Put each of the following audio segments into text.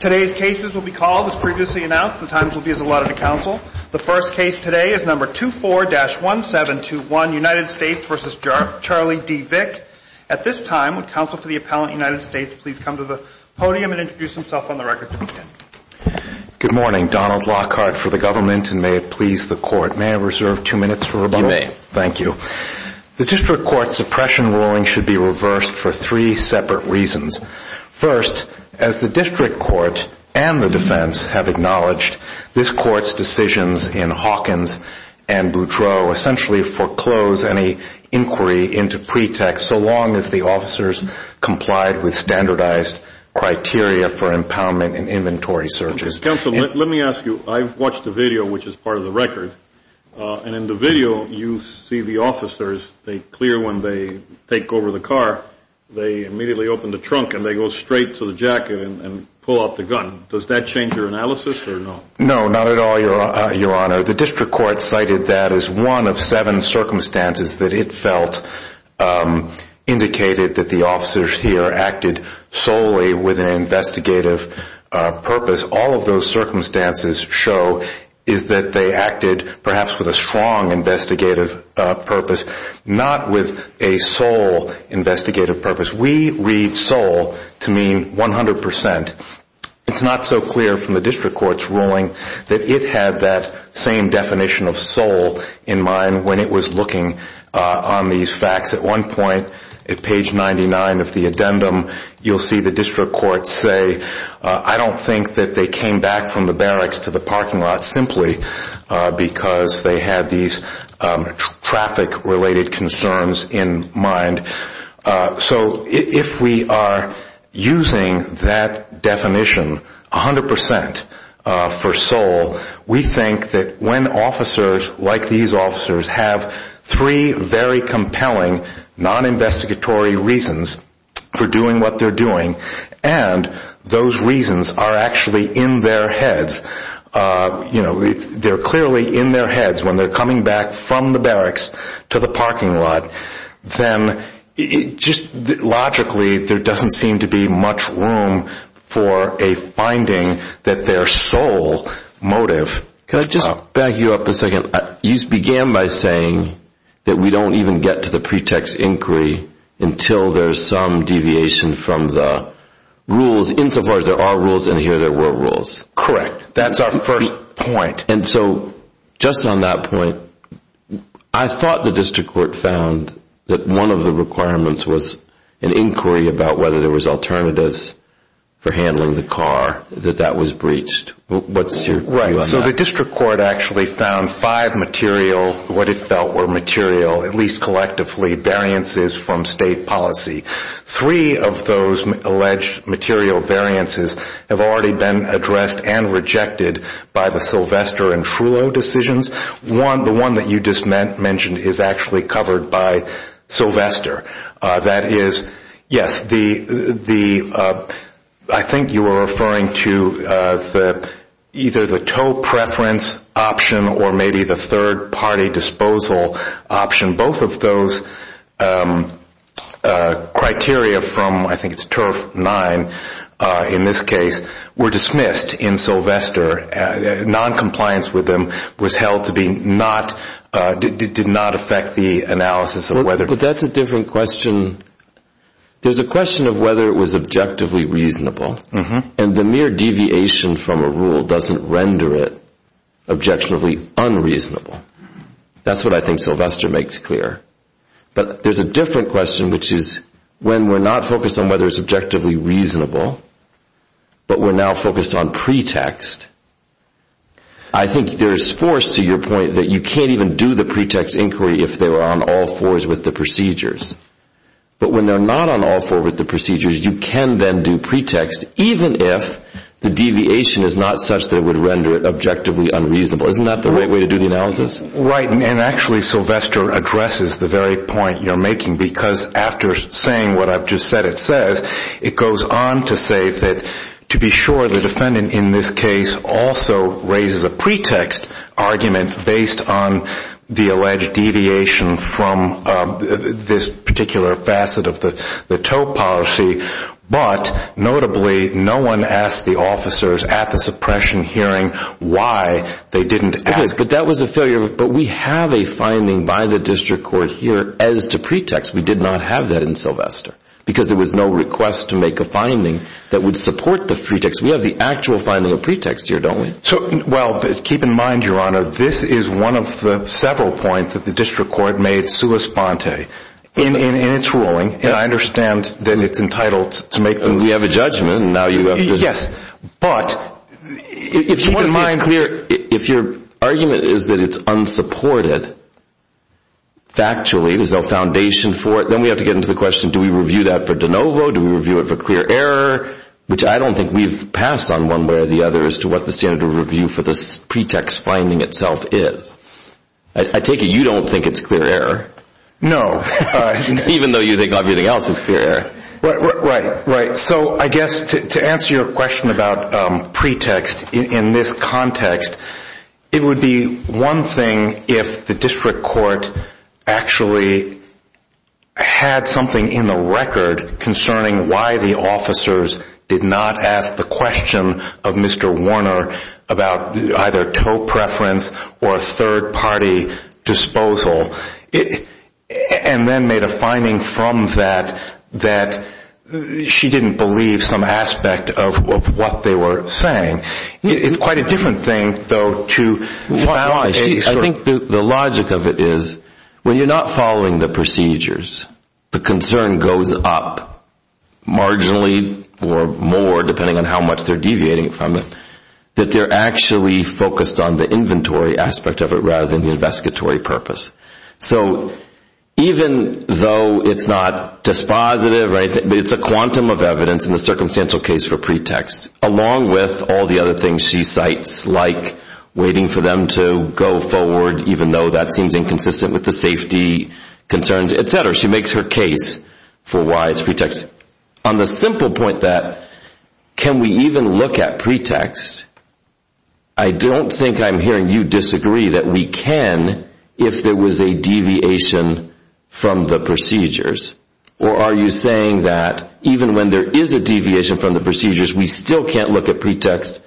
Today's case is number 24-1721 United States v. Charlie D. Vick. At this time, would counsel for the appellant United States please come to the podium and introduce himself on the record. Good morning. Donald Lockhart for the government and may it please the court. May I reserve two minutes for rebuttal? You may. Thank you. The district court suppression ruling should be reversed for three separate reasons. First, as the district court and the defense have acknowledged, this court's decisions in Hawkins and Boudreaux essentially foreclose any inquiry into pretext so long as the officers complied with standardized criteria for impoundment and inventory searches. Counsel, let me ask you, I've watched the video which is part of the record and in the trunk and they go straight to the jacket and pull out the gun. Does that change your analysis or no? No, not at all, your honor. The district court cited that as one of seven circumstances that it felt indicated that the officers here acted solely with an investigative purpose. All of those circumstances show is that they acted perhaps with a strong investigative purpose, not with a sole investigative purpose. We read sole to mean 100%. It's not so clear from the district court's ruling that it had that same definition of sole in mind when it was looking on these facts. At one point, at page 99 of the addendum, you'll see the district court say, I don't think that they came back from the barracks to the parking lot simply because they had these traffic-related concerns in mind. So if we are using that definition 100% for sole, we think that when officers like these officers have three very compelling non-investigatory reasons for doing what they're doing and those reasons are actually in their heads, they're clearly in their heads when they're coming back from the barracks to the parking lot, then just logically there doesn't seem to be much room for a finding that their sole motive... Can I just back you up a second? You began by saying that we don't even get to the pretext inquiry until there's some deviation from the rules insofar as there are rules and here there were rules. Correct. That's our first point. And so just on that point, I thought the district court found that one of the requirements was an inquiry about whether there was alternatives for handling the car, that that was breached. What's your view on that? Right. So the district court actually found five material, what it felt were material, at least collectively, variances from state policy. Three of those alleged material variances have already been addressed and rejected by the Sylvester and Trullo decisions. One, the one that you just mentioned, is actually covered by Sylvester. That is, yes, I think you were referring to either the tow preference option or maybe the third party disposal option. And both of those criteria from, I think it's turf nine in this case, were dismissed in Sylvester. Noncompliance with them was held to be not, did not affect the analysis of whether... But that's a different question. There's a question of whether it was objectively reasonable and the mere deviation from a rule doesn't render it objectionably unreasonable. That's what I think Sylvester makes clear. But there's a different question, which is when we're not focused on whether it's objectively reasonable, but we're now focused on pretext, I think there's force to your point that you can't even do the pretext inquiry if they were on all fours with the procedures. But when they're not on all fours with the procedures, you can then do pretext, even if the deviation is not such that it would render it objectively unreasonable. Isn't that the right way to do the analysis? Right. And actually, Sylvester addresses the very point you're making because after saying what I've just said it says, it goes on to say that to be sure the defendant in this case also raises a pretext argument based on the alleged deviation from this particular facet of the TOEP policy. But notably, no one asked the officers at the suppression hearing why they didn't ask. But that was a failure. But we have a finding by the district court here as to pretext. We did not have that in Sylvester because there was no request to make a finding that would support the pretext. We have the actual finding of pretext here, don't we? Well, keep in mind, Your Honor, this is one of the several points that the district court made sui sponte in its ruling. And I understand that it's entitled to make those- We have a judgment and now you have to- Yes. But if your argument is that it's unsupported factually, there's no foundation for it, then we have to get into the question, do we review that for de novo? Do we review it for clear error? Which I don't think we've passed on one way or the other as to what the standard of review for this pretext finding itself is. I take it you don't think it's clear error. No. Even though you think everything else is clear error. Right. So I guess to answer your question about pretext in this context, it would be one thing if the district court actually had something in the record concerning why the officers did not ask the question of Mr. Warner about either toe preference or third party disposal, and then made a finding from that that she didn't believe some aspect of what they were saying. It's quite a different thing, though, to- I think the logic of it is when you're not following the procedures, the concern goes up marginally or more, depending on how much they're deviating from it, that they're actually focused on the inventory aspect of it rather than the investigatory purpose. So even though it's not dispositive, it's a quantum of evidence in the circumstantial case for pretext, along with all the other things she cites like waiting for them to go forward, even though that seems inconsistent with the safety concerns, etc. She makes her case for why it's pretext. On the simple point that can we even look at pretext, I don't think I'm hearing you disagree that we can if there was a deviation from the procedures. Or are you saying that even when there is a deviation from the procedures, we still can't look at pretext?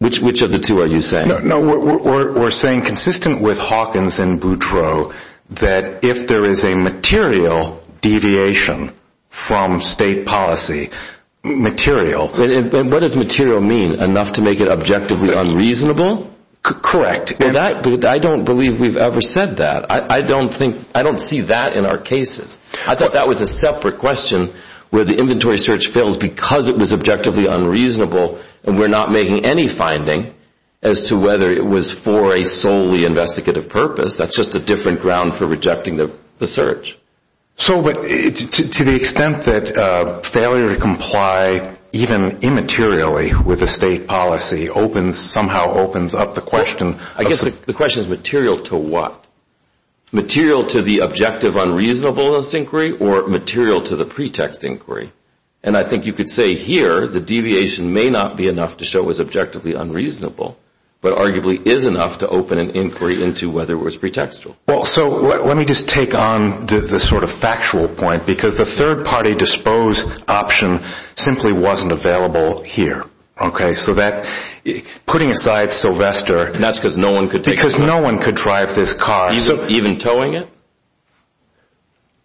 Which of the two are you saying? No, we're saying consistent with Hawkins and Boudreaux that if there is a material deviation from state policy, material... And what does material mean? Enough to make it objectively unreasonable? Correct. I don't believe we've ever said that. I don't think, I don't see that in our cases. I thought that was a separate question where the inventory search fails because it was objectively unreasonable and we're not making any finding as to whether it was for a solely investigative purpose. That's just a different ground for rejecting the search. So to the extent that failure to comply even immaterially with a state policy somehow opens up the question... I guess the question is material to what? Material to the objective unreasonableness inquiry or material to the pretext inquiry? And I think you could say here the deviation may not be enough to show it was objectively unreasonable, but arguably is enough to open an inquiry into whether it was pretextual. Well, so let me just take on the sort of factual point because the third-party disposed option simply wasn't available here. Okay, so that putting aside Sylvester... And that's because no one could... Because no one could drive this car... Even towing it?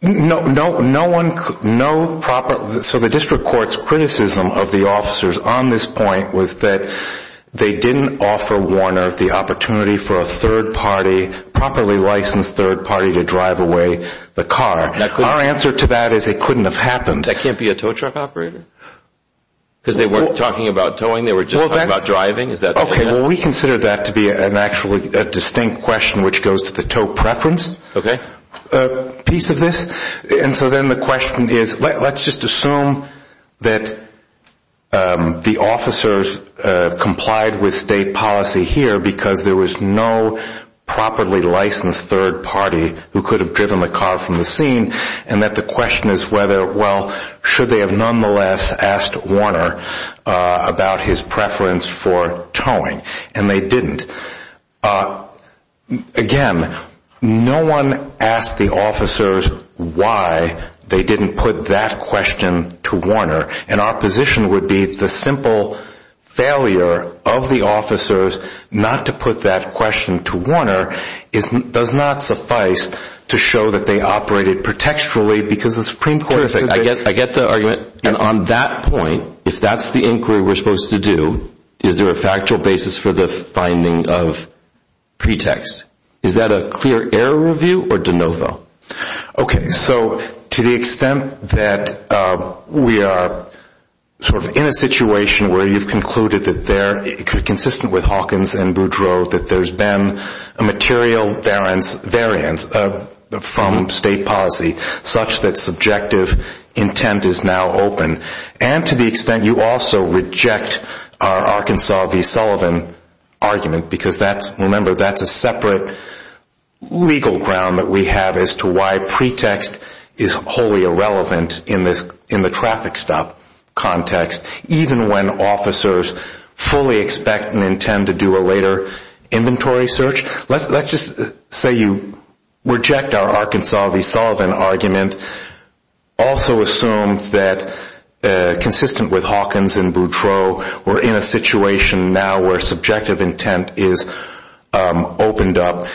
No, no, no one, no proper... So the district court's criticism of the officers on this point was that they didn't offer Warner the opportunity for a third-party, properly licensed third-party to drive away the car. Our answer to that is it couldn't have happened. That can't be a tow truck operator? Because they weren't talking about towing, they were just talking about driving? Okay, well we consider that to be an actually a distinct question which goes to the tow preference piece of this. And so then the question is, let's just assume that the officers complied with state policy here because there was no properly licensed third-party who could have driven the car from the scene, and that the question is whether, well, should they have nonetheless asked Warner about his preference for towing? And they didn't. Again, no one asked the officers why they didn't put that question to Warner, and our position would be the simple failure of the officers not to put that question to Warner does not suffice to show that they operated protecturally because the Supreme Court... Terrific, I get the argument. And on that point, if that's the inquiry we're supposed to do, is there a factual basis for the finding of pretext? Is that a clear error review or de novo? Okay, so to the extent that we are sort of in a situation where you've concluded that they're consistent with Hawkins and Boudreau, that there's been a material variance from state policy such that subjective intent is now open, and to the extent you also reject our Arkansas v. Sullivan argument, because remember, that's a separate legal ground that we have as to why pretext is wholly irrelevant in the traffic stop context, even when officers fully expect and intend to inventory search. Let's just say you reject our Arkansas v. Sullivan argument, also assume that consistent with Hawkins and Boudreau, we're in a situation now where subjective intent is opened up.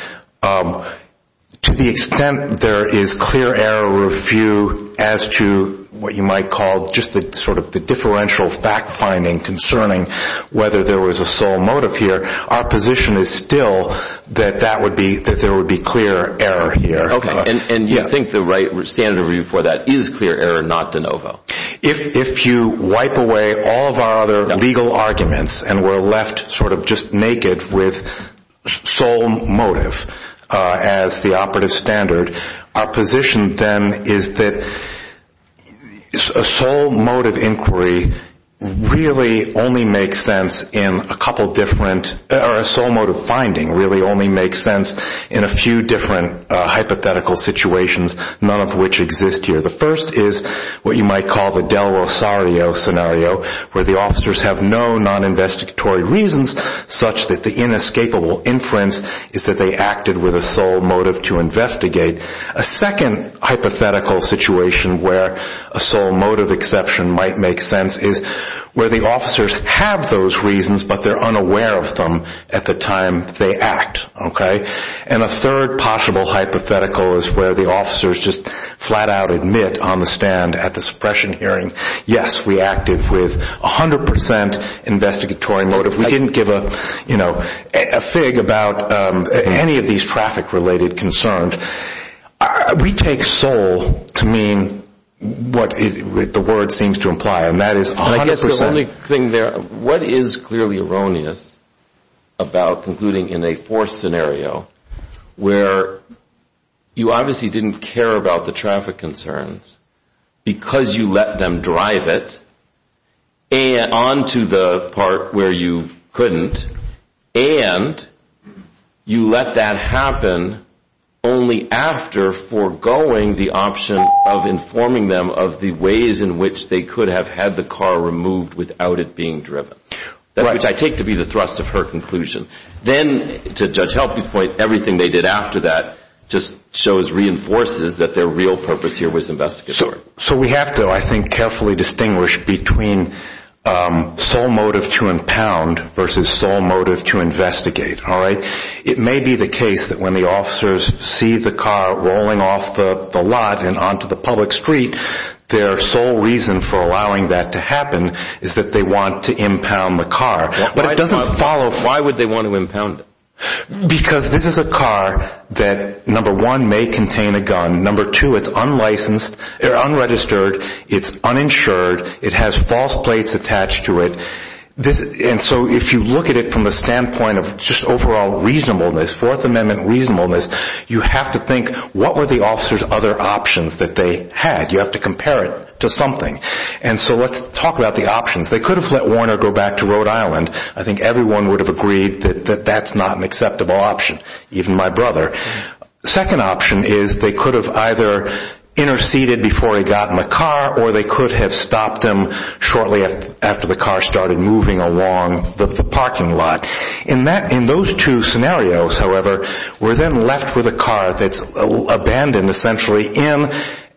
To the extent there is clear error review as to what you might call just the differential fact finding concerning whether there was a sole motive here, our position is still that there would be clear error here. Okay, and you think the right standard review for that is clear error, not de novo? If you wipe away all of our other legal arguments and we're left sort of just naked with sole motive as the operative standard, our position then is that a sole motive inquiry really only makes sense in a couple different, or a sole motive finding really only makes sense in a few different hypothetical situations, none of which exist here. The first is what you might call the Del Rosario scenario, where the officers have no non-investigatory reasons such that the inescapable inference is that they acted with a sole motive to investigate. A second hypothetical situation where a sole motive exception might make sense is where the officers have those reasons, but they're unaware of them at the time they act, okay? And a third possible hypothetical is where the officers just flat out admit on the stand at the suppression hearing, yes, we acted with 100% investigatory motive. We didn't give a fig about any of these traffic-related concerns. We take sole to mean what the word seems to imply, and that is 100%. And I guess the only thing there, what is clearly erroneous about concluding in a forced scenario where you obviously didn't care about the traffic concerns because you let them drive it, and onto the part where you couldn't, and you let that happen only after foregoing the option of informing them of the ways in which they could have had the car removed without it being driven, which I take to be the thrust of her conclusion. Then, to Judge Helping's point, everything they did after that just shows, reinforces that their real purpose here was investigative work. So we have to, I think, carefully distinguish between sole motive to impound versus sole motive to investigate, all right? It may be the case that when the officers see the car rolling off the lot and onto the public street, their sole reason for allowing that to happen is that they want to impound the car. Why would they want to impound it? Because this is a car that, number one, may contain a gun. Number two, it's unlicensed. They're unregistered. It's uninsured. It has false plates attached to it. And so if you look at it from the standpoint of just overall reasonableness, Fourth Amendment reasonableness, you have to think, what were the officer's other options that they had? You have to compare it to something. And so let's talk about the options. They could have let Warner go back to Rhode Island. I think everyone would have agreed that that's not an acceptable option, even my brother. Second option is they could have either interceded before he got in the car or they could have stopped him shortly after the car started moving along the parking lot. In those two scenarios, however, we're then left with a car that's abandoned, essentially, in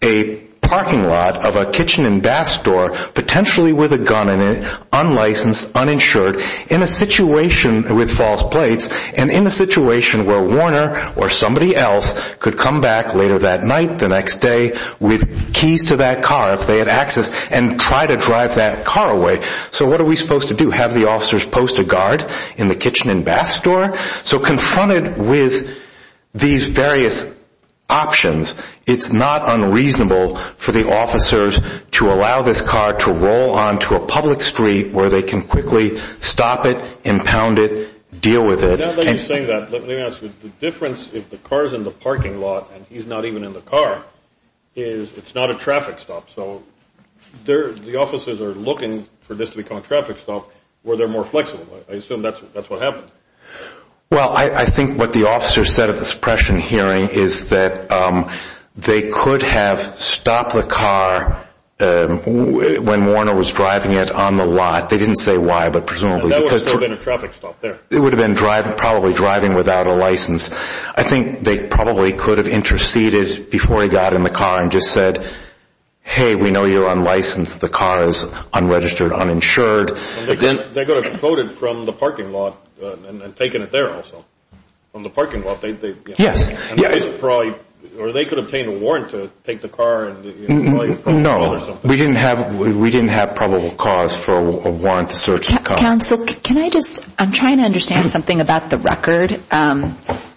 a parking lot of a kitchen and bath store, potentially with a gun in it, unlicensed, uninsured, in a situation with false plates and in a situation where Warner or somebody else could come back later that night, the next day, with keys to that car if they had access and try to drive that car away. So what are we supposed to do? Have the officers post a guard in the kitchen and bath store? So confronted with these various options, it's not unreasonable for the officers to allow this car to roll onto a public street where they can quickly stop it, impound it, deal with it. Now that you're saying that, let me ask you, the difference if the car's in the parking lot and he's not even in the car is it's not a traffic stop. So the officers are looking for this to become a traffic stop where they're more flexible. I assume that's what happened. Well, I think what the officers said at the suppression hearing is that they could have stopped the car when Warner was driving it on the lot. They didn't say why, but presumably it would have been probably driving without a license. I think they probably could have interceded before he got in the car and just said, hey, we know you're unlicensed. The car is unregistered, uninsured. They could have quoted from the parking lot and taken it there also. From the parking lot. Yes. Or they could obtain a warrant to take the car. No, we didn't have probable cause for a warrant to search the car. Counsel, can I just, I'm trying to understand something about the record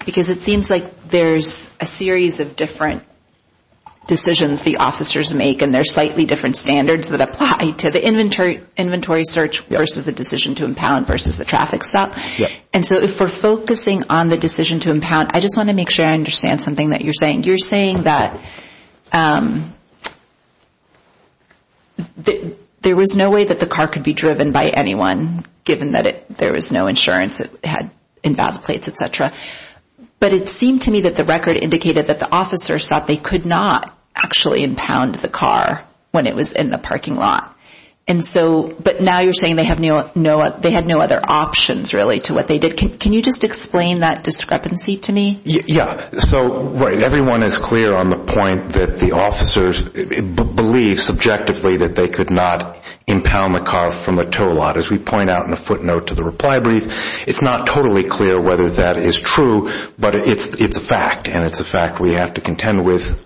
because it seems like there's a series of different decisions the officers make and they're slightly different standards that apply to the inventory search versus the decision to impound versus the traffic stop. And so if we're focusing on the decision to impound, I just want to make sure I understand something that you're saying. You're saying that there was no way that the car could be driven by anyone given that there was no insurance it had in battle plates, etc. But it seemed to me that the record indicated that the officers thought they could not actually impound the car when it was in the parking lot. And so, but now you're saying they had no other options really to what they did. Can you just explain that discrepancy to me? Yeah. So everyone is clear on the point that the officers believe subjectively that they could not impound the car from a tow lot. As we point out in the footnote to the reply brief, it's not totally clear whether that is true, but it's a fact and it's a fact we have to contend with.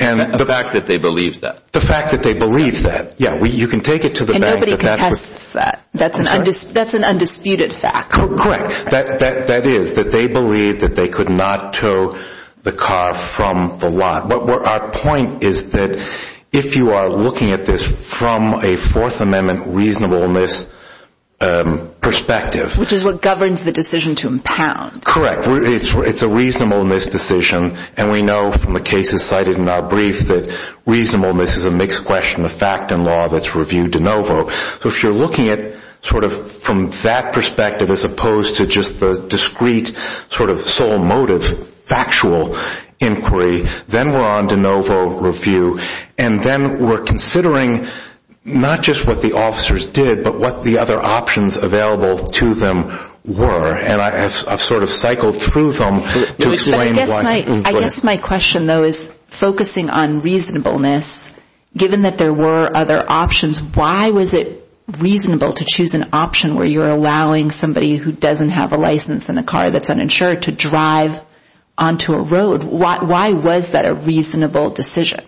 And the fact that they believe that. The fact that they believe that. Yeah. You can take it to the bank. And nobody contests that. That's an undisputed fact. Correct. That is that they believe that they could not tow the car from the lot. But our point is that if you are looking at this from a Fourth Amendment reasonableness perspective. Which is what governs the decision to impound. Correct. It's a reasonableness decision. And we know from the cases cited in our brief that reasonableness is a mixed question of fact and law that's reviewed de novo. So if you're looking at sort of from that perspective as opposed to just the discrete sort of sole motive factual inquiry, then we're on de novo review. And then we're considering not just what the officers did, but what the other options available to them were. And I've sort of cycled through them. I guess my question though is focusing on reasonableness. Given that there were other options, why was it reasonable to choose an option where you're allowing somebody who doesn't have a license in a car that's uninsured to drive onto a road? Why was that a reasonable decision?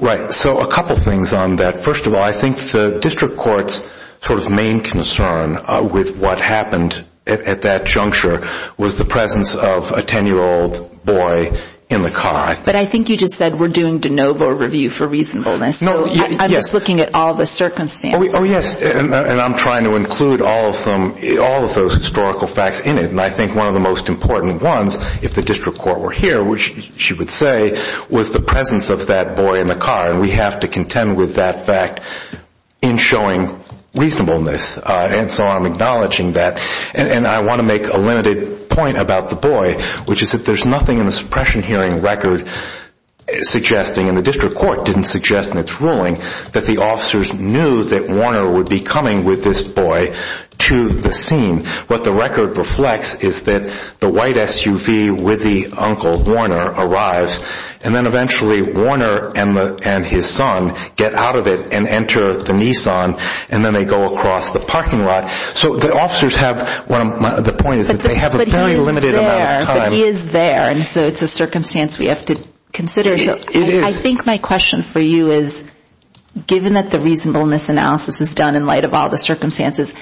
Right. So a couple things on that. First of all, I think the district court's sort of main concern with what happened at that juncture was the presence of a 10-year-old boy in the car. But I think you just said we're doing de novo review for reasonableness. I'm just looking at all the circumstances. Oh yes. And I'm trying to include all of those historical facts in it. And I think one of the most important ones, if the district court were here, which she would say, was the presence of that boy in the car. And we have to contend with that fact in showing reasonableness. And so I'm acknowledging that. And I want to make a limited point about the boy, which is that there's nothing in the suppression hearing record suggesting, and the district court didn't suggest in its ruling, that the officers knew that Warner would be coming with this boy to the scene. What the record reflects is that the white SUV with the uncle Warner arrives. And then eventually Warner and his son get out of it and enter the Nissan and then they go across the parking lot. So the officers have, the point is that they have a very limited amount of time. But he is there. And so it's a circumstance we have to consider. So I think my question for you is, given that the reasonableness analysis is done in light of all the circumstances,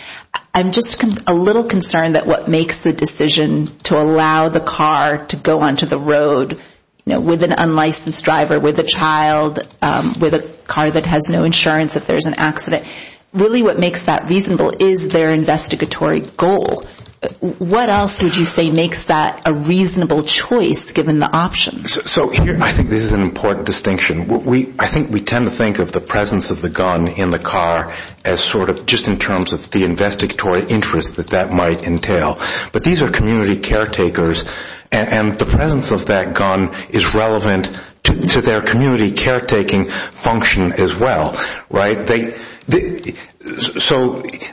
I'm just a little concerned that what makes the decision to allow the car to go onto the road with an unlicensed driver, with a child, with a car that has no insurance if there's an accident, really what makes that reasonable is their investigatory goal. What else would you say makes that a reasonable choice given the options? So I think this is an important distinction. I think we tend to think of the presence of the gun in the car as sort of just in terms of the investigatory interest that that might entail. But these are community caretakers and the presence of that gun is relevant to their community caretaking function as well, right? So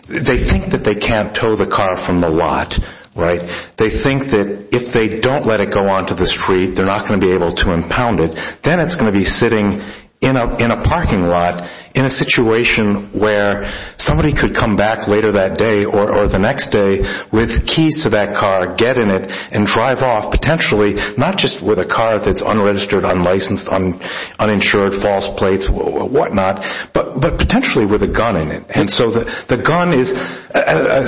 they think that they can't tow the car from the lot, right? They think that if they don't let it go onto the they're not going to be able to impound it. Then it's going to be sitting in a parking lot in a situation where somebody could come back later that day or the next day with keys to that car, get in it, and drive off potentially not just with a car that's unregistered, unlicensed, uninsured, false plates, whatnot, but potentially with a gun in it. And so the gun is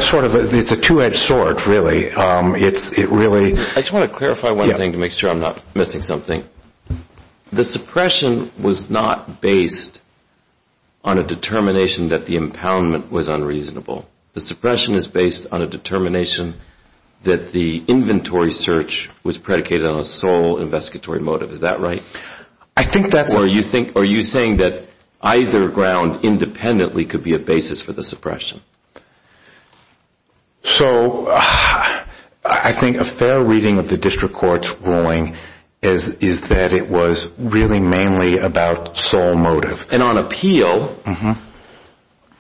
sort of a two-edged sword, really. I just want to clarify one thing to make sure I'm not missing something. The suppression was not based on a determination that the impoundment was unreasonable. The suppression is based on a determination that the inventory search was predicated on a sole investigatory motive. Is that right? Or are you saying that either ground independently could be a basis for the suppression? So I think a fair reading of the district court's ruling is that it was really mainly about sole motive. And on appeal,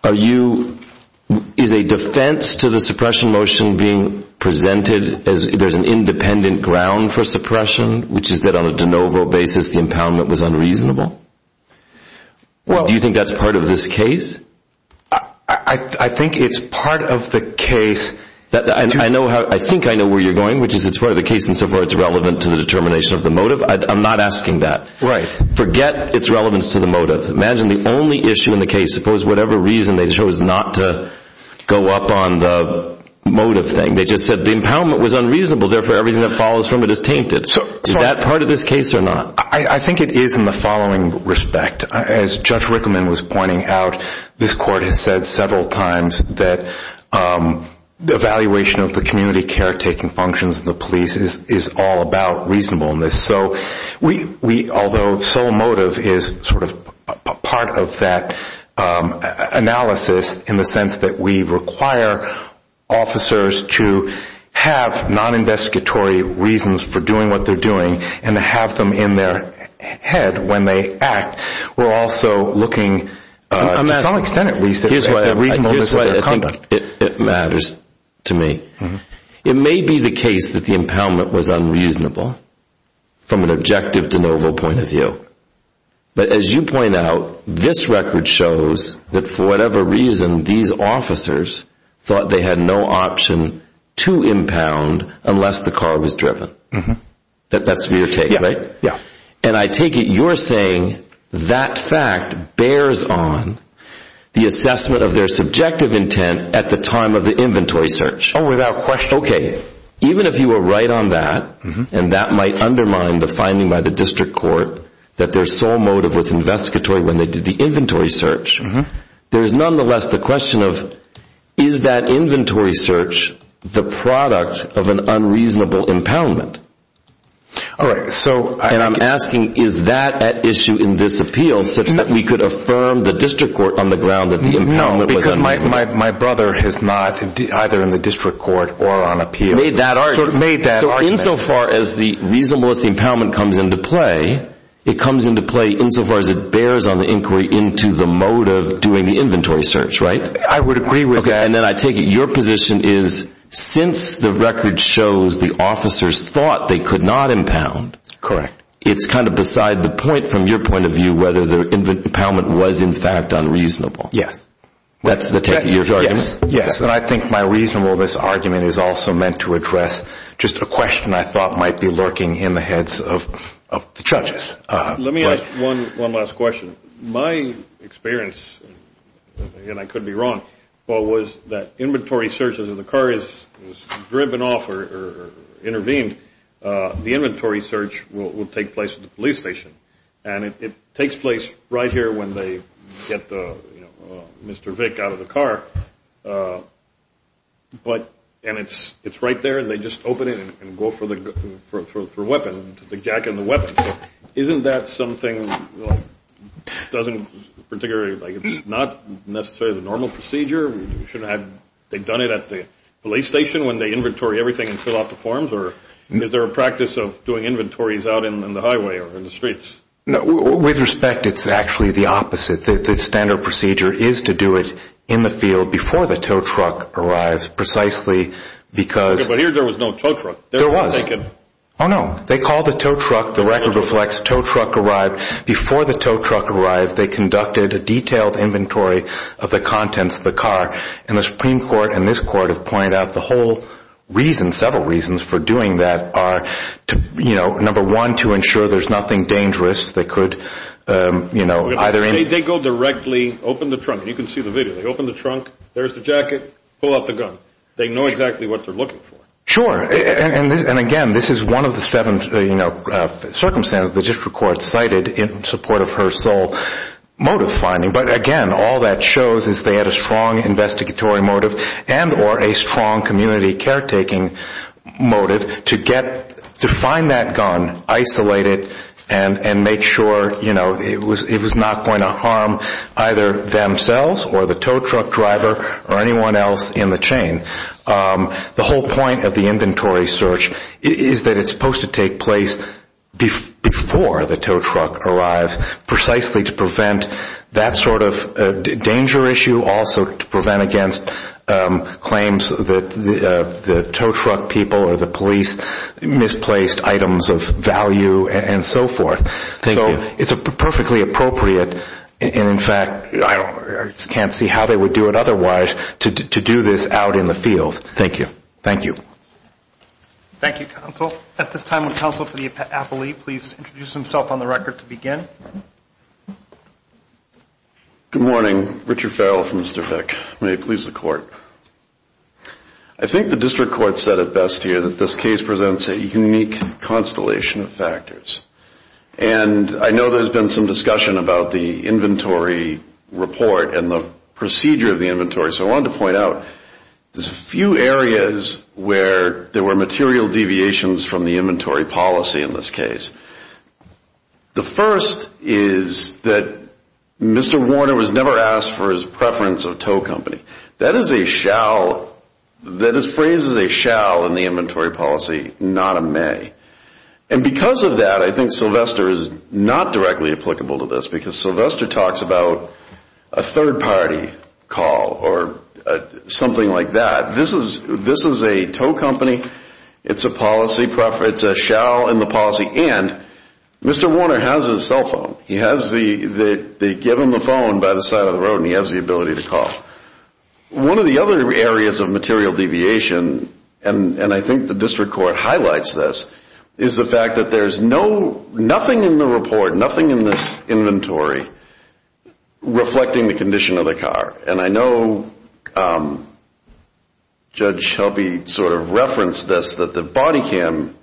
are you, is a defense to the suppression motion being presented as there's an independent ground for suppression, which is that on a de novo basis the impoundment was unreasonable? Well, do you think that's part of this case? I think it's part of the case that I know how, I think I know where you're going, which is it's part of the case insofar it's relevant to the determination of the motive. I'm not asking that. Right. Forget its relevance to the motive. Imagine the only issue in the case, suppose whatever reason they chose not to go up on the motive thing, they just said the impoundment was unreasonable. Therefore, everything that follows from it is tainted. Is that part of this case or not? I think it is in the following respect. As Judge Rickman was pointing out, this court has said several times that the evaluation of the community care taking functions of the police is all about reasonableness. So we, although sole motive is sort of a part of that analysis in the sense that we require officers to have non-investigatory reasons for doing what they're doing and to have them in their head when they act, we're also looking to some extent at least at the reasonableness of their conduct. It matters to me. It may be the case that the impoundment was unreasonable from an objective de novo point of view. But as you point out, this record shows that for whatever reason, these officers thought they had no option to impound unless the car was driven. That's your take, right? Yeah. And I take it you're saying that fact bears on the assessment of their subjective intent at the time of the inventory search. Oh, without question. Okay. Even if you were right on that, and that might undermine the finding by the district court that their sole motive was investigatory when they did the inventory search, there's nonetheless the question of is that inventory search the product of an unreasonable impoundment? All right. And I'm asking is that at issue in this appeal such that we could affirm the district court on the ground that the impoundment was unreasonable? No, because my brother is not either in the district court or on appeal. So insofar as the reasonableness impoundment comes into play, it comes into play insofar as it bears on the inquiry into the motive doing the inventory search, right? I would agree with that. Okay. And then I take it your position is since the record shows the officers thought they could not impound. Correct. It's kind of beside the point from your point of view, whether the impoundment was in fact unreasonable. Yes. That's the take of your argument? Yes. And I think my reasonableness argument is also meant to address just a question I thought might be lurking in the heads of the judges. Let me ask one last question. My experience, and I could be wrong, but was that inventory searches of the cars was driven off or intervened, the inventory search will take place at the police station. And it takes place right here when they get Mr. Vick out of the car. And it's right there and they just open it and go for the weapon, the jack and the weapon. Isn't that something that doesn't particularly, like it's not necessarily the normal procedure? They've done it at the police station when they inventory everything and fill out the forms? Or is there a practice of doing inventories out in the highway or in the streets? No. With respect, it's actually the opposite. The standard procedure is to do it in the field before the tow truck arrives precisely because... But here there was no tow truck. There was. Oh, no. They called the tow truck. The record reflects tow truck arrived. Before the tow truck arrived, they conducted a detailed inventory of the contents of the car. And the Supreme Court and this court have pointed out the whole reason, several reasons for doing that are, you know, number one, to ensure there's nothing dangerous. They could, you know, either... They go directly, open the trunk. You can see the video. They open the trunk. There's the pull out the gun. They know exactly what they're looking for. Sure. And again, this is one of the seven, you know, circumstances the district court cited in support of her sole motive finding. But again, all that shows is they had a strong investigatory motive and or a strong community caretaking motive to get, to find that gun, isolate it and make sure, you know, it was not going to either themselves or the tow truck driver or anyone else in the chain. The whole point of the inventory search is that it's supposed to take place before the tow truck arrives precisely to prevent that sort of danger issue. Also to prevent against claims that the tow truck people or the and in fact, I just can't see how they would do it otherwise to do this out in the field. Thank you. Thank you. Thank you, counsel. At this time, would counsel for the appellee please introduce himself on the record to begin? Good morning. Richard Farrell from Mr. Fick. May it please the court. I think the district court said it best here that this case presents a unique constellation of factors. And I know there's been some discussion about the inventory report and the procedure of the inventory. So I wanted to point out there's a few areas where there were material deviations from the inventory policy in this case. The first is that Mr. Warner was never asked for his preference of tow company. That is a shall, that is phrased as a shall in the inventory policy, not a may. And because of that, I think Sylvester is not directly applicable to this because Sylvester talks about a third party call or something like that. This is a tow company. It's a policy, it's a shall in the policy. And Mr. Warner has a cell phone. He has the, they give him a phone by the side of the road and he has the ability to call. One of the other areas of material deviation, and I think the district court highlights this, is the fact that there's no, nothing in the report, nothing in this inventory, reflecting the condition of the car. And I know Judge Shelby sort of referenced this, that the body cam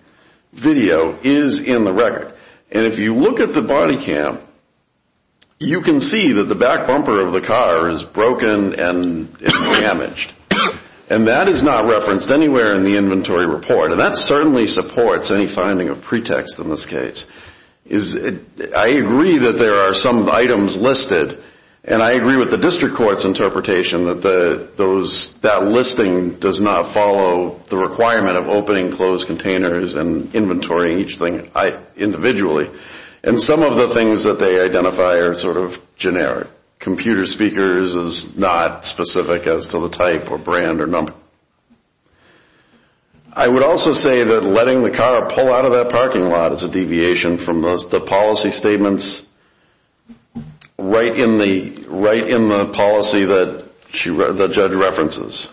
video is in the record. And if you look at the body cam, you can see that the back bumper of the car is broken and damaged. And that is not anywhere in the inventory report. And that certainly supports any finding of pretext in this case. I agree that there are some items listed and I agree with the district court's interpretation that that listing does not follow the requirement of opening closed containers and inventorying each thing individually. And some of the things that they identify are sort of generic. Computer speakers is not specific as to the type or brand or number. I would also say that letting the car pull out of that parking lot is a deviation from the policy statements right in the policy that the judge references.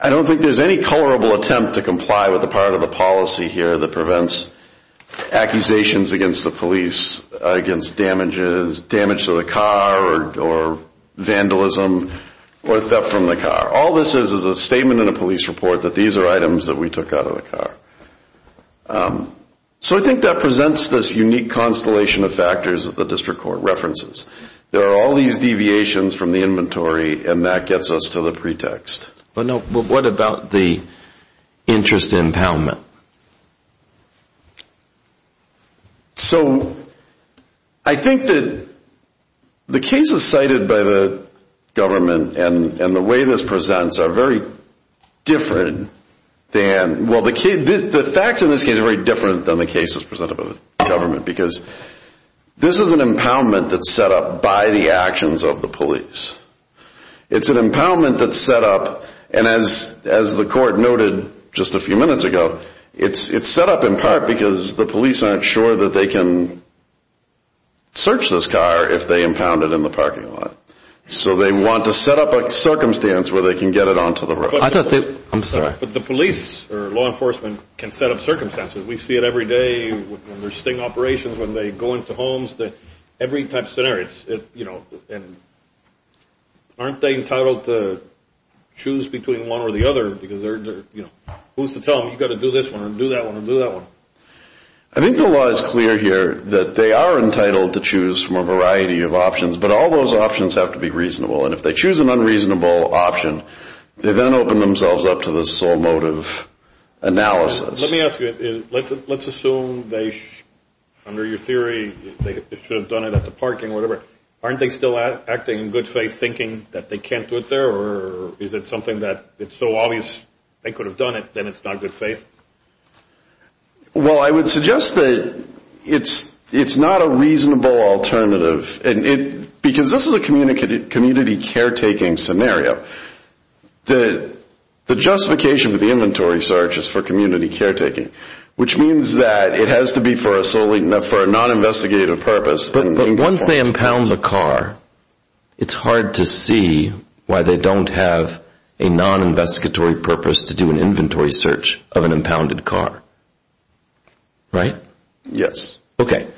I don't think there's any colorable attempt to comply with the part of the policy here that prevents accusations against the police against damages, damage to the car or vandalism or theft from the car. All this is is a statement in a police report that these are items that we took out of the car. So I think that presents this unique constellation of factors that the district court references. There are all these deviations from the inventory and that gets us to the pretext. But what about the interest in impoundment? So I think that the cases cited by the government and the way this presents are very different than, well the facts in this case are very different than the cases presented by the government because this is an impoundment that's set up by the actions of the police. It's an impoundment that's set up, and as the court noted just a few minutes ago, it's set up in part because the police aren't sure that they can search this car if they impound it in the parking lot. So they want to set up a circumstance where they can get it onto the road. But the police or law enforcement can set up circumstances. We see it every day when there's sting operations, when they go into homes, every type of scenario. Aren't they entitled to choose between one or the other? Who's to tell them, you've got to do this one or do that one or do that one? I think the law is clear here that they are entitled to choose from a variety of options, but all those options have to be reasonable. And if they choose an unreasonable option, they then open themselves up to the sole motive analysis. Let me ask you, let's assume they, under your theory, they should have done it at the parking or whatever. Aren't they still acting in good faith thinking that they can't do it there, or is it something that it's so obvious they could have done it, then it's not good faith? Well, I would suggest that it's not a reasonable alternative. Because this is a community care scenario. The justification for the inventory search is for community care taking, which means that it has to be for a non-investigative purpose. But once they impound the car, it's hard to see why they don't have a non-investigatory purpose to do an inventory search of an impounded car. Right? Yes. Okay.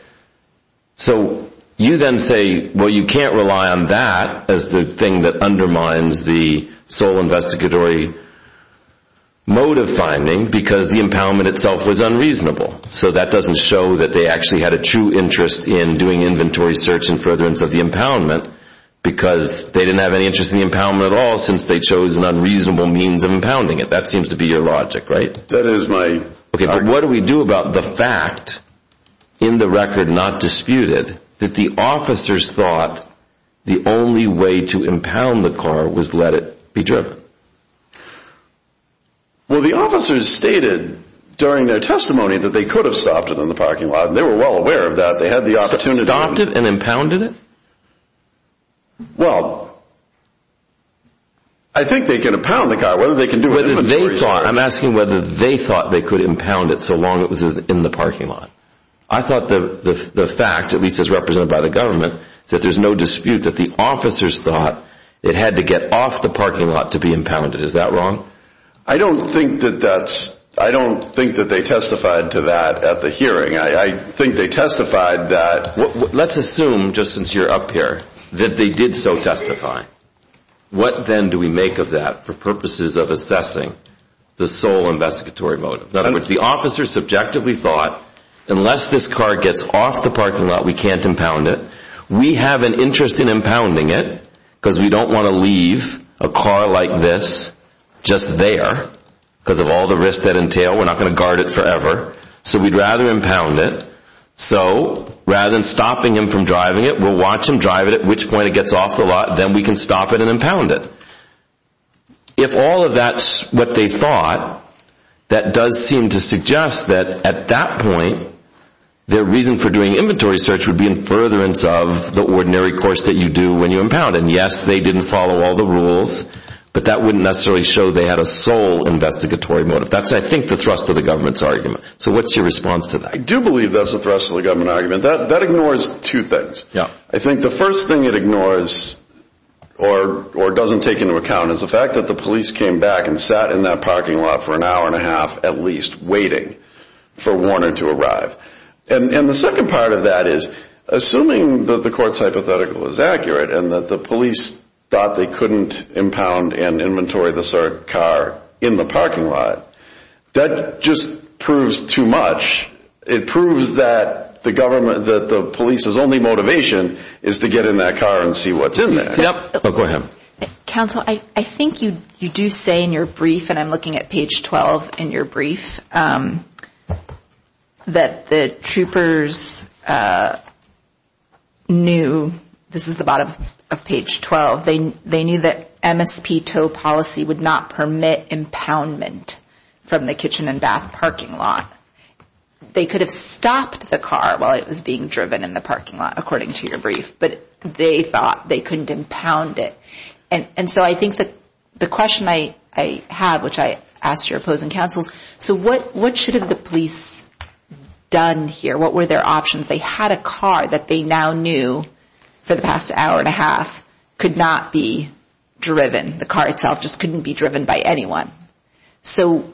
So you then say, well, you can't rely on that as the thing that undermines the sole investigatory motive finding because the impoundment itself was unreasonable. So that doesn't show that they actually had a true interest in doing inventory search and furtherance of the impoundment because they didn't have any interest in the impoundment at all since they chose an unreasonable means of impounding it. That seems to be your logic, right? That is my logic. Okay. But what do we do about the fact, in the record not disputed, that the officers thought the only way to impound the car was let it be driven? Well, the officers stated during their testimony that they could have stopped it in the parking lot. They were well aware of that. They had the opportunity. Stopped it and impounded it? Well, I think they can impound the car. Whether they can do an inventory search. I'm asking whether they thought they could impound it so long it was in the parking lot. I thought the fact, at least as represented by the government, that there's no dispute that the officers thought it had to get off the parking lot to be impounded. Is that wrong? I don't think that that's, I don't think that they testified to that at the hearing. I think they testified that. Let's assume, just since you're up here, that they did so testify. What then do we make of that for purposes of assessing the sole investigatory motive? In other words, the officers subjectively thought, unless this car gets off the parking lot, we can't impound it. We have an interest in impounding it because we don't want to leave a car like this just there because of all the risks that entail. We're not going to guard it forever. So we'd rather impound it. So, rather than stopping him from driving it, we'll watch at which point it gets off the lot, then we can stop it and impound it. If all of that's what they thought, that does seem to suggest that at that point, their reason for doing inventory search would be in furtherance of the ordinary course that you do when you impound. And yes, they didn't follow all the rules, but that wouldn't necessarily show they had a sole investigatory motive. That's, I think, the thrust of the government's argument. So what's your response to that? I do believe that's a thrust of the government argument. That ignores two things. I think the first thing it ignores or doesn't take into account is the fact that the police came back and sat in that parking lot for an hour and a half, at least, waiting for Warner to arrive. And the second part of that is, assuming that the court's hypothetical is accurate and that the police thought they couldn't impound and inventory the car in the parking lot, that just proves too much. It proves that the police's only motivation is to get in that car and see what's in there. Council, I think you do say in your brief, and I'm looking at page 12 in your brief, that the troopers knew, this is the bottom of page 12, they knew that MSPTO policy would not permit impoundment from the kitchen and bath parking lot. They could have stopped the car while it was being driven in the parking lot, according to your brief, but they thought they couldn't impound it. And so I think the question I have, which I ask your opposing councils, so what should have the police done here? What were their options? They had a car that they now knew for the past hour and a half could not be driven. The car itself just couldn't be driven by anyone. So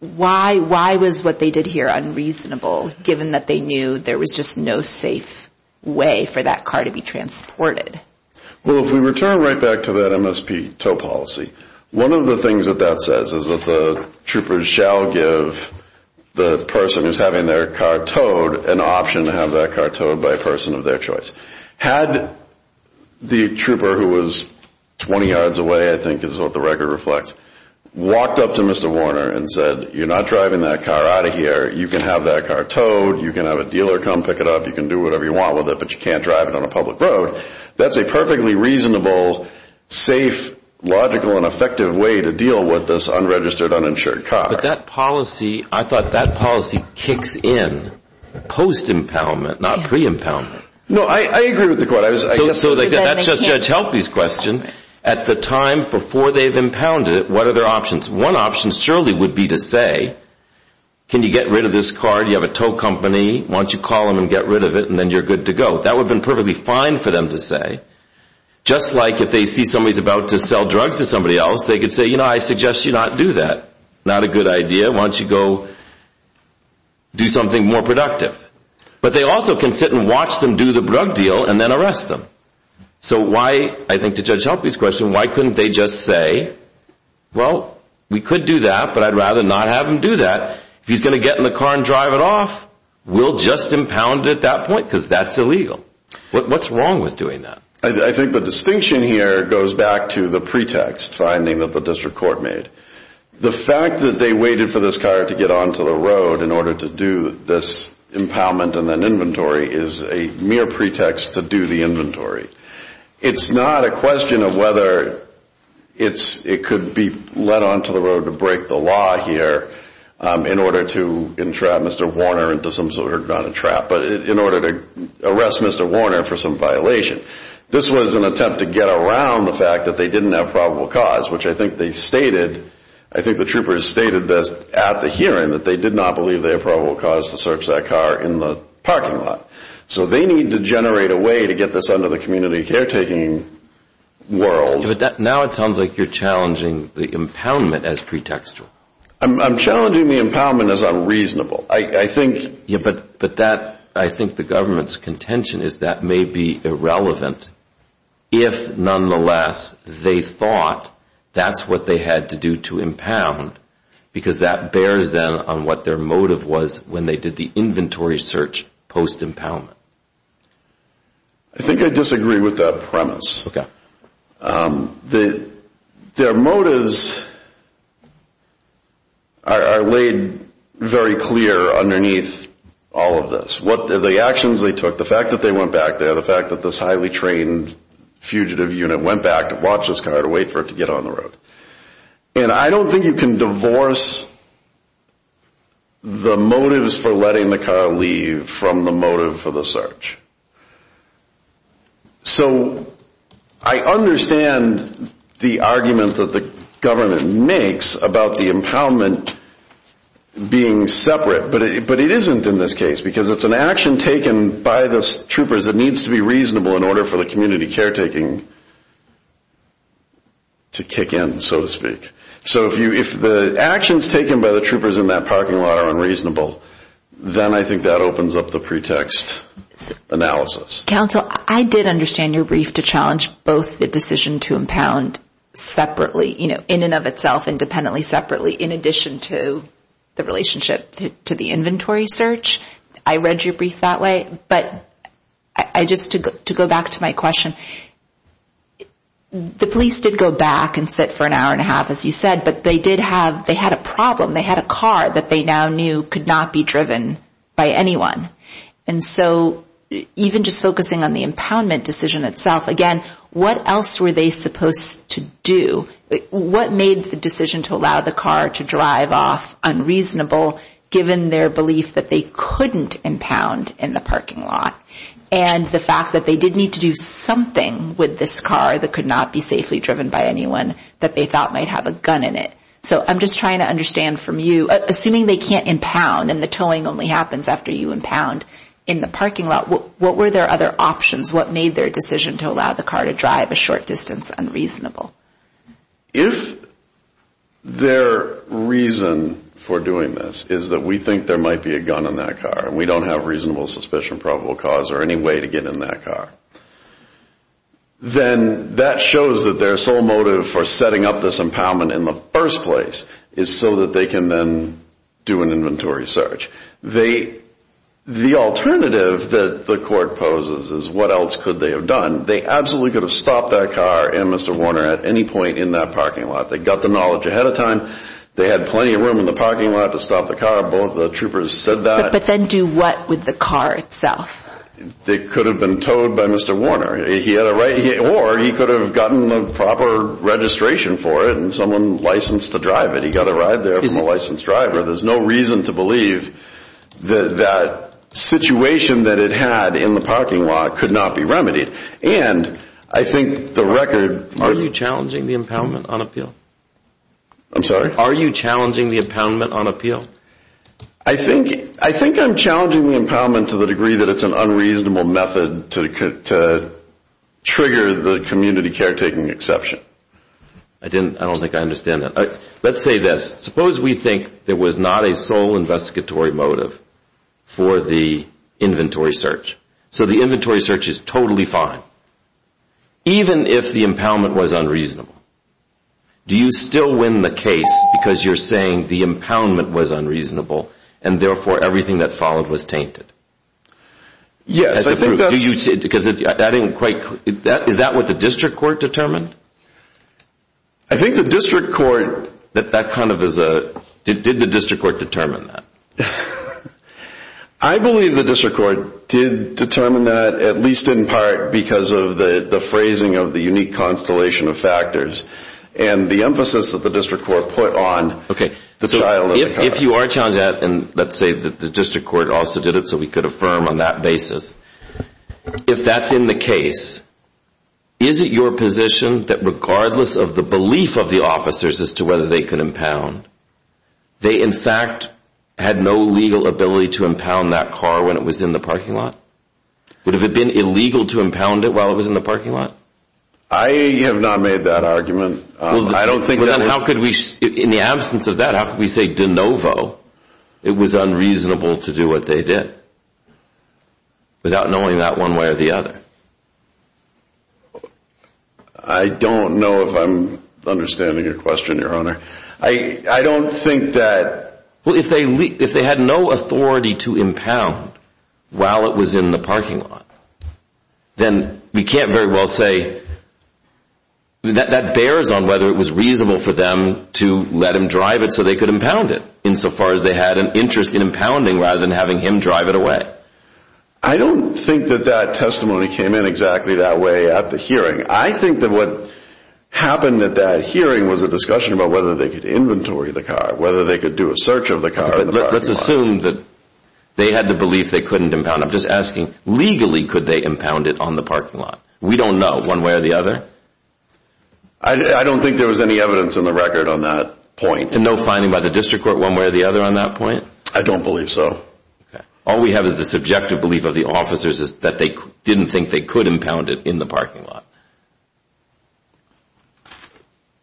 why was what they did here unreasonable, given that they knew there was just no safe way for that car to be transported? Well, if we return right back to that MSPTO policy, one of the things that that says is that the troopers shall give the person who's having their car towed an option to have that car towed by a person of their choice. Had the trooper who was 20 yards away, I think is what the record reflects, walked up to Mr. Warner and said, you're not driving that car out of here, you can have that car towed, you can have a dealer come pick it up, you can do whatever you want with it, but you can't drive it on a public road, that's a perfectly reasonable, safe, logical, and effective way to deal with this unregistered, uninsured car. But that policy, I thought that policy kicks in post-impoundment, not pre-impoundment. No, I agree with the court. That's just Judge Helpey's question. At the time before they've impounded it, what are their options? One option surely would be to say, can you get rid of this car, do you have a tow company, why don't you call them and get rid of it and then you're good to go. That would have been perfectly fine for them to say. Just like if they see somebody's about to sell drugs to somebody else, they could say, you know, I suggest you not do that, not a good idea, why don't you go do something more productive. But they also can sit and watch them do the drug deal and then arrest them. So why, I think to Judge Helpey's question, why couldn't they just say, well, we could do that, but I'd rather not have him do that, if he's going to get in the car and drive it off, we'll just impound it at that point, because that's illegal. What's wrong with doing that? I think the distinction here goes back to the pretext finding that the district court made. The fact that they waited for this car to get onto the road in order to do this impoundment and then inventory is a mere pretext to do the inventory. It's not a question of whether it could be led onto the road to break the law here in order to entrap Mr. Warner into some sort of, not a trap, but in order to arrest Mr. Warner for some violation. This was an attempt to get around the fact that they didn't have probable cause, which I think they stated, I think the troopers stated this at the hearing, that they did not believe they had probable cause to search that car in the parking lot. So they need to generate a way to get this under the community caretaking world. But now it sounds like you're challenging the impoundment as pretextual. I'm challenging the impoundment as unreasonable. I think... Yeah, but that, I think the government's contention is that may be irrelevant if nonetheless they thought that's what they had to do to impound because that bears them on what their motive was when they did the inventory search post-impoundment. I think I disagree with that premise. Okay. Their motives are laid very clear underneath all of this. What are the actions they took, the fact that they went back there, the fact that this highly trained fugitive unit went back to watch this car to wait for it to get on the road. And I don't think you can divorce the motives for letting the car leave from the motive for the search. So, I understand the argument that the government makes about the impoundment being separate, but it isn't in this case because it's an action taken by the troopers that needs to be reasonable in order for the community caretaking to kick in, so to speak. So, if the actions taken by the troopers in that parking lot are analysis. Counsel, I did understand your brief to challenge both the decision to impound separately, in and of itself, independently, separately, in addition to the relationship to the inventory search. I read your brief that way, but just to go back to my question, the police did go back and sit for an hour and a half, as you said, but they did have, they had a problem. They had a car that they now knew could not be driven by anyone. And so, even just focusing on the impoundment decision itself, again, what else were they supposed to do? What made the decision to allow the car to drive off unreasonable, given their belief that they couldn't impound in the parking lot? And the fact that they did need to do something with this car that could not be safely driven by anyone that they thought might have a gun in it. So, I'm just trying to understand from you, assuming they can't impound and the towing only happens after you impound in the parking lot, what were their other options? What made their decision to allow the car to drive a short distance unreasonable? If their reason for doing this is that we think there might be a gun in that car and we don't have reasonable suspicion, probable cause, or any way to get in that car, then that shows that their sole motive for setting up this impoundment in the first place is so that they can then do an inventory search. The alternative that the court poses is what else could they have done? They absolutely could have stopped that car and Mr. Warner at any point in that parking lot. They got the knowledge ahead of time. They had plenty of room in the parking lot to stop the car. Both the troopers said that. But then do what with the car itself? They could have been towed by Mr. Warner. Or he could have gotten a proper registration for it and someone licensed to drive it. He got a ride there from a licensed driver. There's no reason to believe that that situation that it had in the parking lot could not be remedied. And I think the record... Are you challenging the impoundment on appeal? I'm sorry? Are you challenging the impoundment on appeal? I think I'm challenging the impoundment to the degree that it's an unreasonable method to trigger the community caretaking exception. I don't think I understand that. Let's say this. Suppose we think there was not a sole investigatory motive for the inventory search. So the inventory search is totally fine. Even if the impoundment was unreasonable, do you still win the case because you're saying the impoundment was unreasonable and therefore everything that followed was tainted? Yes, I think that's... Is that what the district court determined? I think the district court... That kind of is a... Did the district court determine that? I believe the district court did determine that at least in part because of the phrasing of the unique constellation of factors and the emphasis that the district court put on... Okay, so if you are challenging that and let's say that the district court also did it so we could affirm on that basis, if that's in the case, is it your position that regardless of the belief of the officers as to whether they could impound, they in fact had no legal ability to impound that car when it was in the parking lot? Would it have been illegal to impound it while it was in the parking lot? I have not made that argument. I don't think that... How could we... In the absence of that, how could we say de novo it was unreasonable to do what they did without knowing that one way or the other? I don't know if I'm understanding your question, your honor. I don't think that... Well, if they had no authority to impound while it was in the parking lot, then we can't very well say... That bears on whether it was reasonable for them to let him drive it so they could impound it insofar as they had an interest in impounding rather than having him drive it away. I don't think that that testimony came in exactly that way at the hearing. I think that what happened at that hearing was a discussion about whether they could inventory the car, whether they could do a search of the car. Let's assume that they had the belief they couldn't impound. I'm just asking, legally could they impound it on the parking lot? We don't know one way or the other. I don't think there was any evidence in the record on that point. No finding by the district court one way or the other on that point? I don't believe so. All we have is the subjective belief of the officers is that they didn't think they could impound it in the parking lot.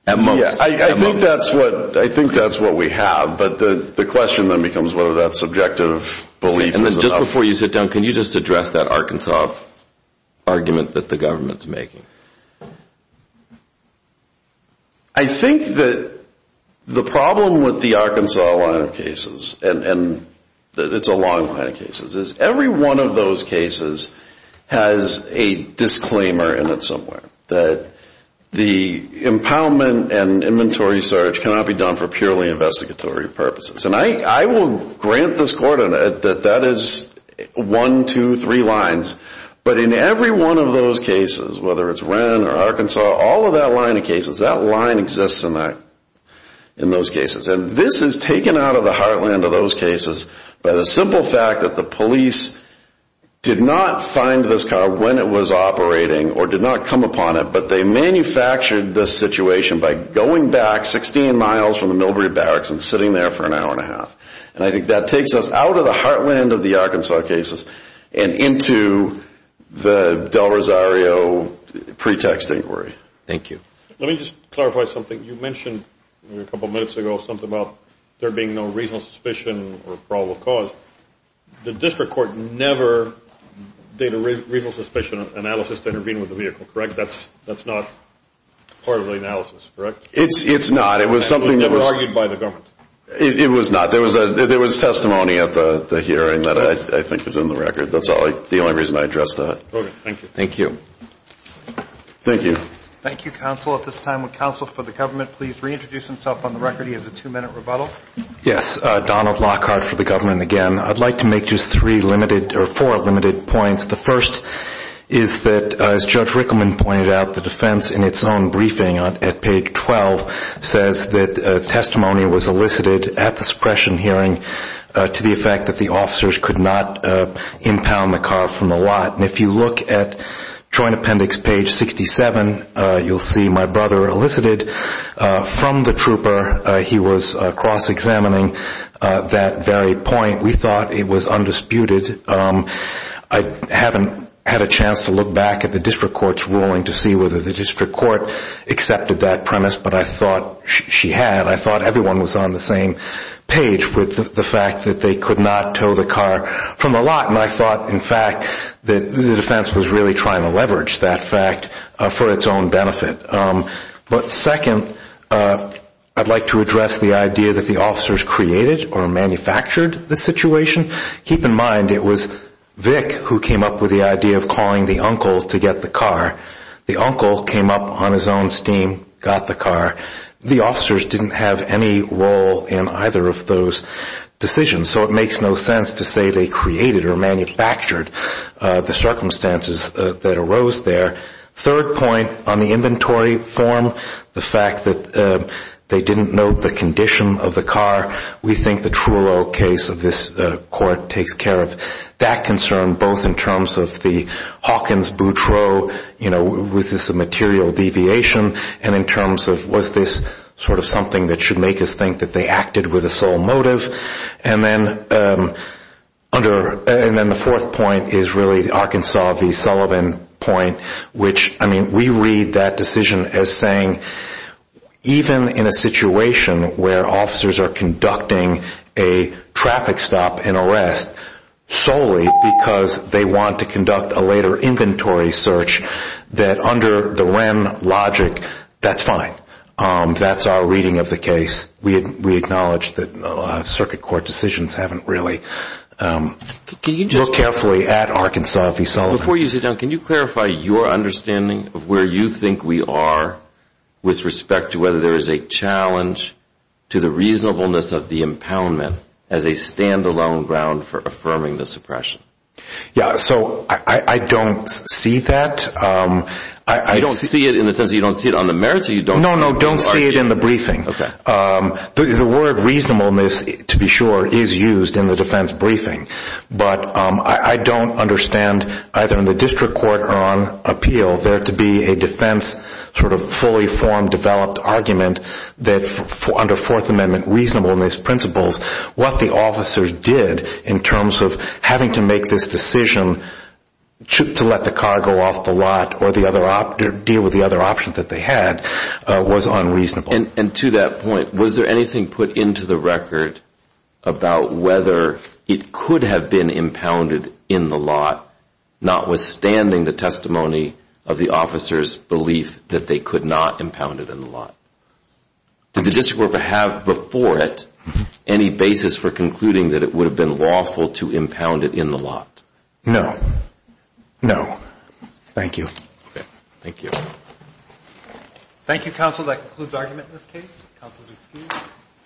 At most. I think that's what we have, but the question then becomes whether that subjective belief is enough. Just before you sit down, can you just address that Arkansas argument that the government's making? I think that the problem with the Arkansas line of cases, and it's a long line of cases, is every one of those cases has a disclaimer in it somewhere that the impoundment and inventory search cannot be done for purely investigatory purposes. And I will grant this court that that one, two, three lines. But in every one of those cases, whether it's Wren or Arkansas, all of that line of cases, that line exists in those cases. And this is taken out of the heartland of those cases by the simple fact that the police did not find this car when it was operating or did not come upon it, but they manufactured this situation by going back 16 miles from the Millbury Barracks and sitting there for an hour and a half. And I think that takes us out of the Arkansas cases and into the Del Rosario pretext inquiry. Thank you. Let me just clarify something. You mentioned a couple minutes ago something about there being no reasonable suspicion or probable cause. The district court never did a reasonable suspicion analysis to intervene with the vehicle, correct? That's not part of the analysis, correct? It's not. It was something that was... It was never argued by the government? It was not. There was testimony at the hearing that I think was in the record. That's the only reason I addressed that. Okay. Thank you. Thank you. Thank you. Thank you, counsel. At this time, would counsel for the government please reintroduce himself on the record? He has a two-minute rebuttal. Yes. Donald Lockhart for the government again. I'd like to make just three limited or four limited points. The first is that, as Judge Rickleman pointed out, the defense in its own briefing at page 12 says that testimony was elicited at the suppression hearing to the effect that the officers could not impound the car from the lot. If you look at joint appendix page 67, you'll see my brother elicited from the trooper. He was cross-examining that very point. We thought it was undisputed. I haven't had a chance to look back at the court's ruling to see whether the district court accepted that premise, but I thought she had. I thought everyone was on the same page with the fact that they could not tow the car from the lot. I thought, in fact, that the defense was really trying to leverage that fact for its own benefit. Second, I'd like to address the idea that the officers created or manufactured the situation. Keep in mind it was Vic who came up with the idea of calling the uncle to get the car. The uncle came up on his own steam, got the car. The officers didn't have any role in either of those decisions, so it makes no sense to say they created or manufactured the circumstances that arose there. Third point, on the inventory form, the fact that they didn't note the condition of the car, we think the Truelow case of this court takes care of that concern, both in terms of the Hawkins-Boutreau, was this a material deviation, and in terms of was this something that should make us think that they acted with a sole motive. And then the fourth point is really the Arkansas v. Sullivan point, which we read that decision as saying even in a situation where officers are conducting a traffic stop and arrest solely because they want to conduct a later inventory search, that under the REM logic, that's fine. That's our reading of the case. We acknowledge that a lot of circuit court decisions haven't really looked carefully at Arkansas v. Sullivan. Before you sit down, can you clarify your understanding of where you think we are with respect to whether there is a challenge to the reasonableness of the impoundment as a stand-alone ground for affirming the suppression? Yeah, so I don't see that. You don't see it in the sense that you don't see it on the merits, or you don't? No, no, don't see it in the briefing. The word reasonableness, to be sure, is used in the defense briefing, but I don't understand either in the district court or on appeal there to be a defense sort of fully formed, developed argument that under Fourth Amendment reasonableness principles, what the officers did in terms of having to make this decision to let the car go off the lot or deal with the other options that they had was unreasonable. And to that point, was there anything put into the record about whether it could have been impounded in the lot, notwithstanding the testimony of the officers' belief that they could not impound it in the lot? Did the district court have before it any basis for concluding that it would have been lawful to impound it in the lot? No. No. Thank you. Thank you. Thank you, counsel. That concludes argument in this case. Counsel is excused.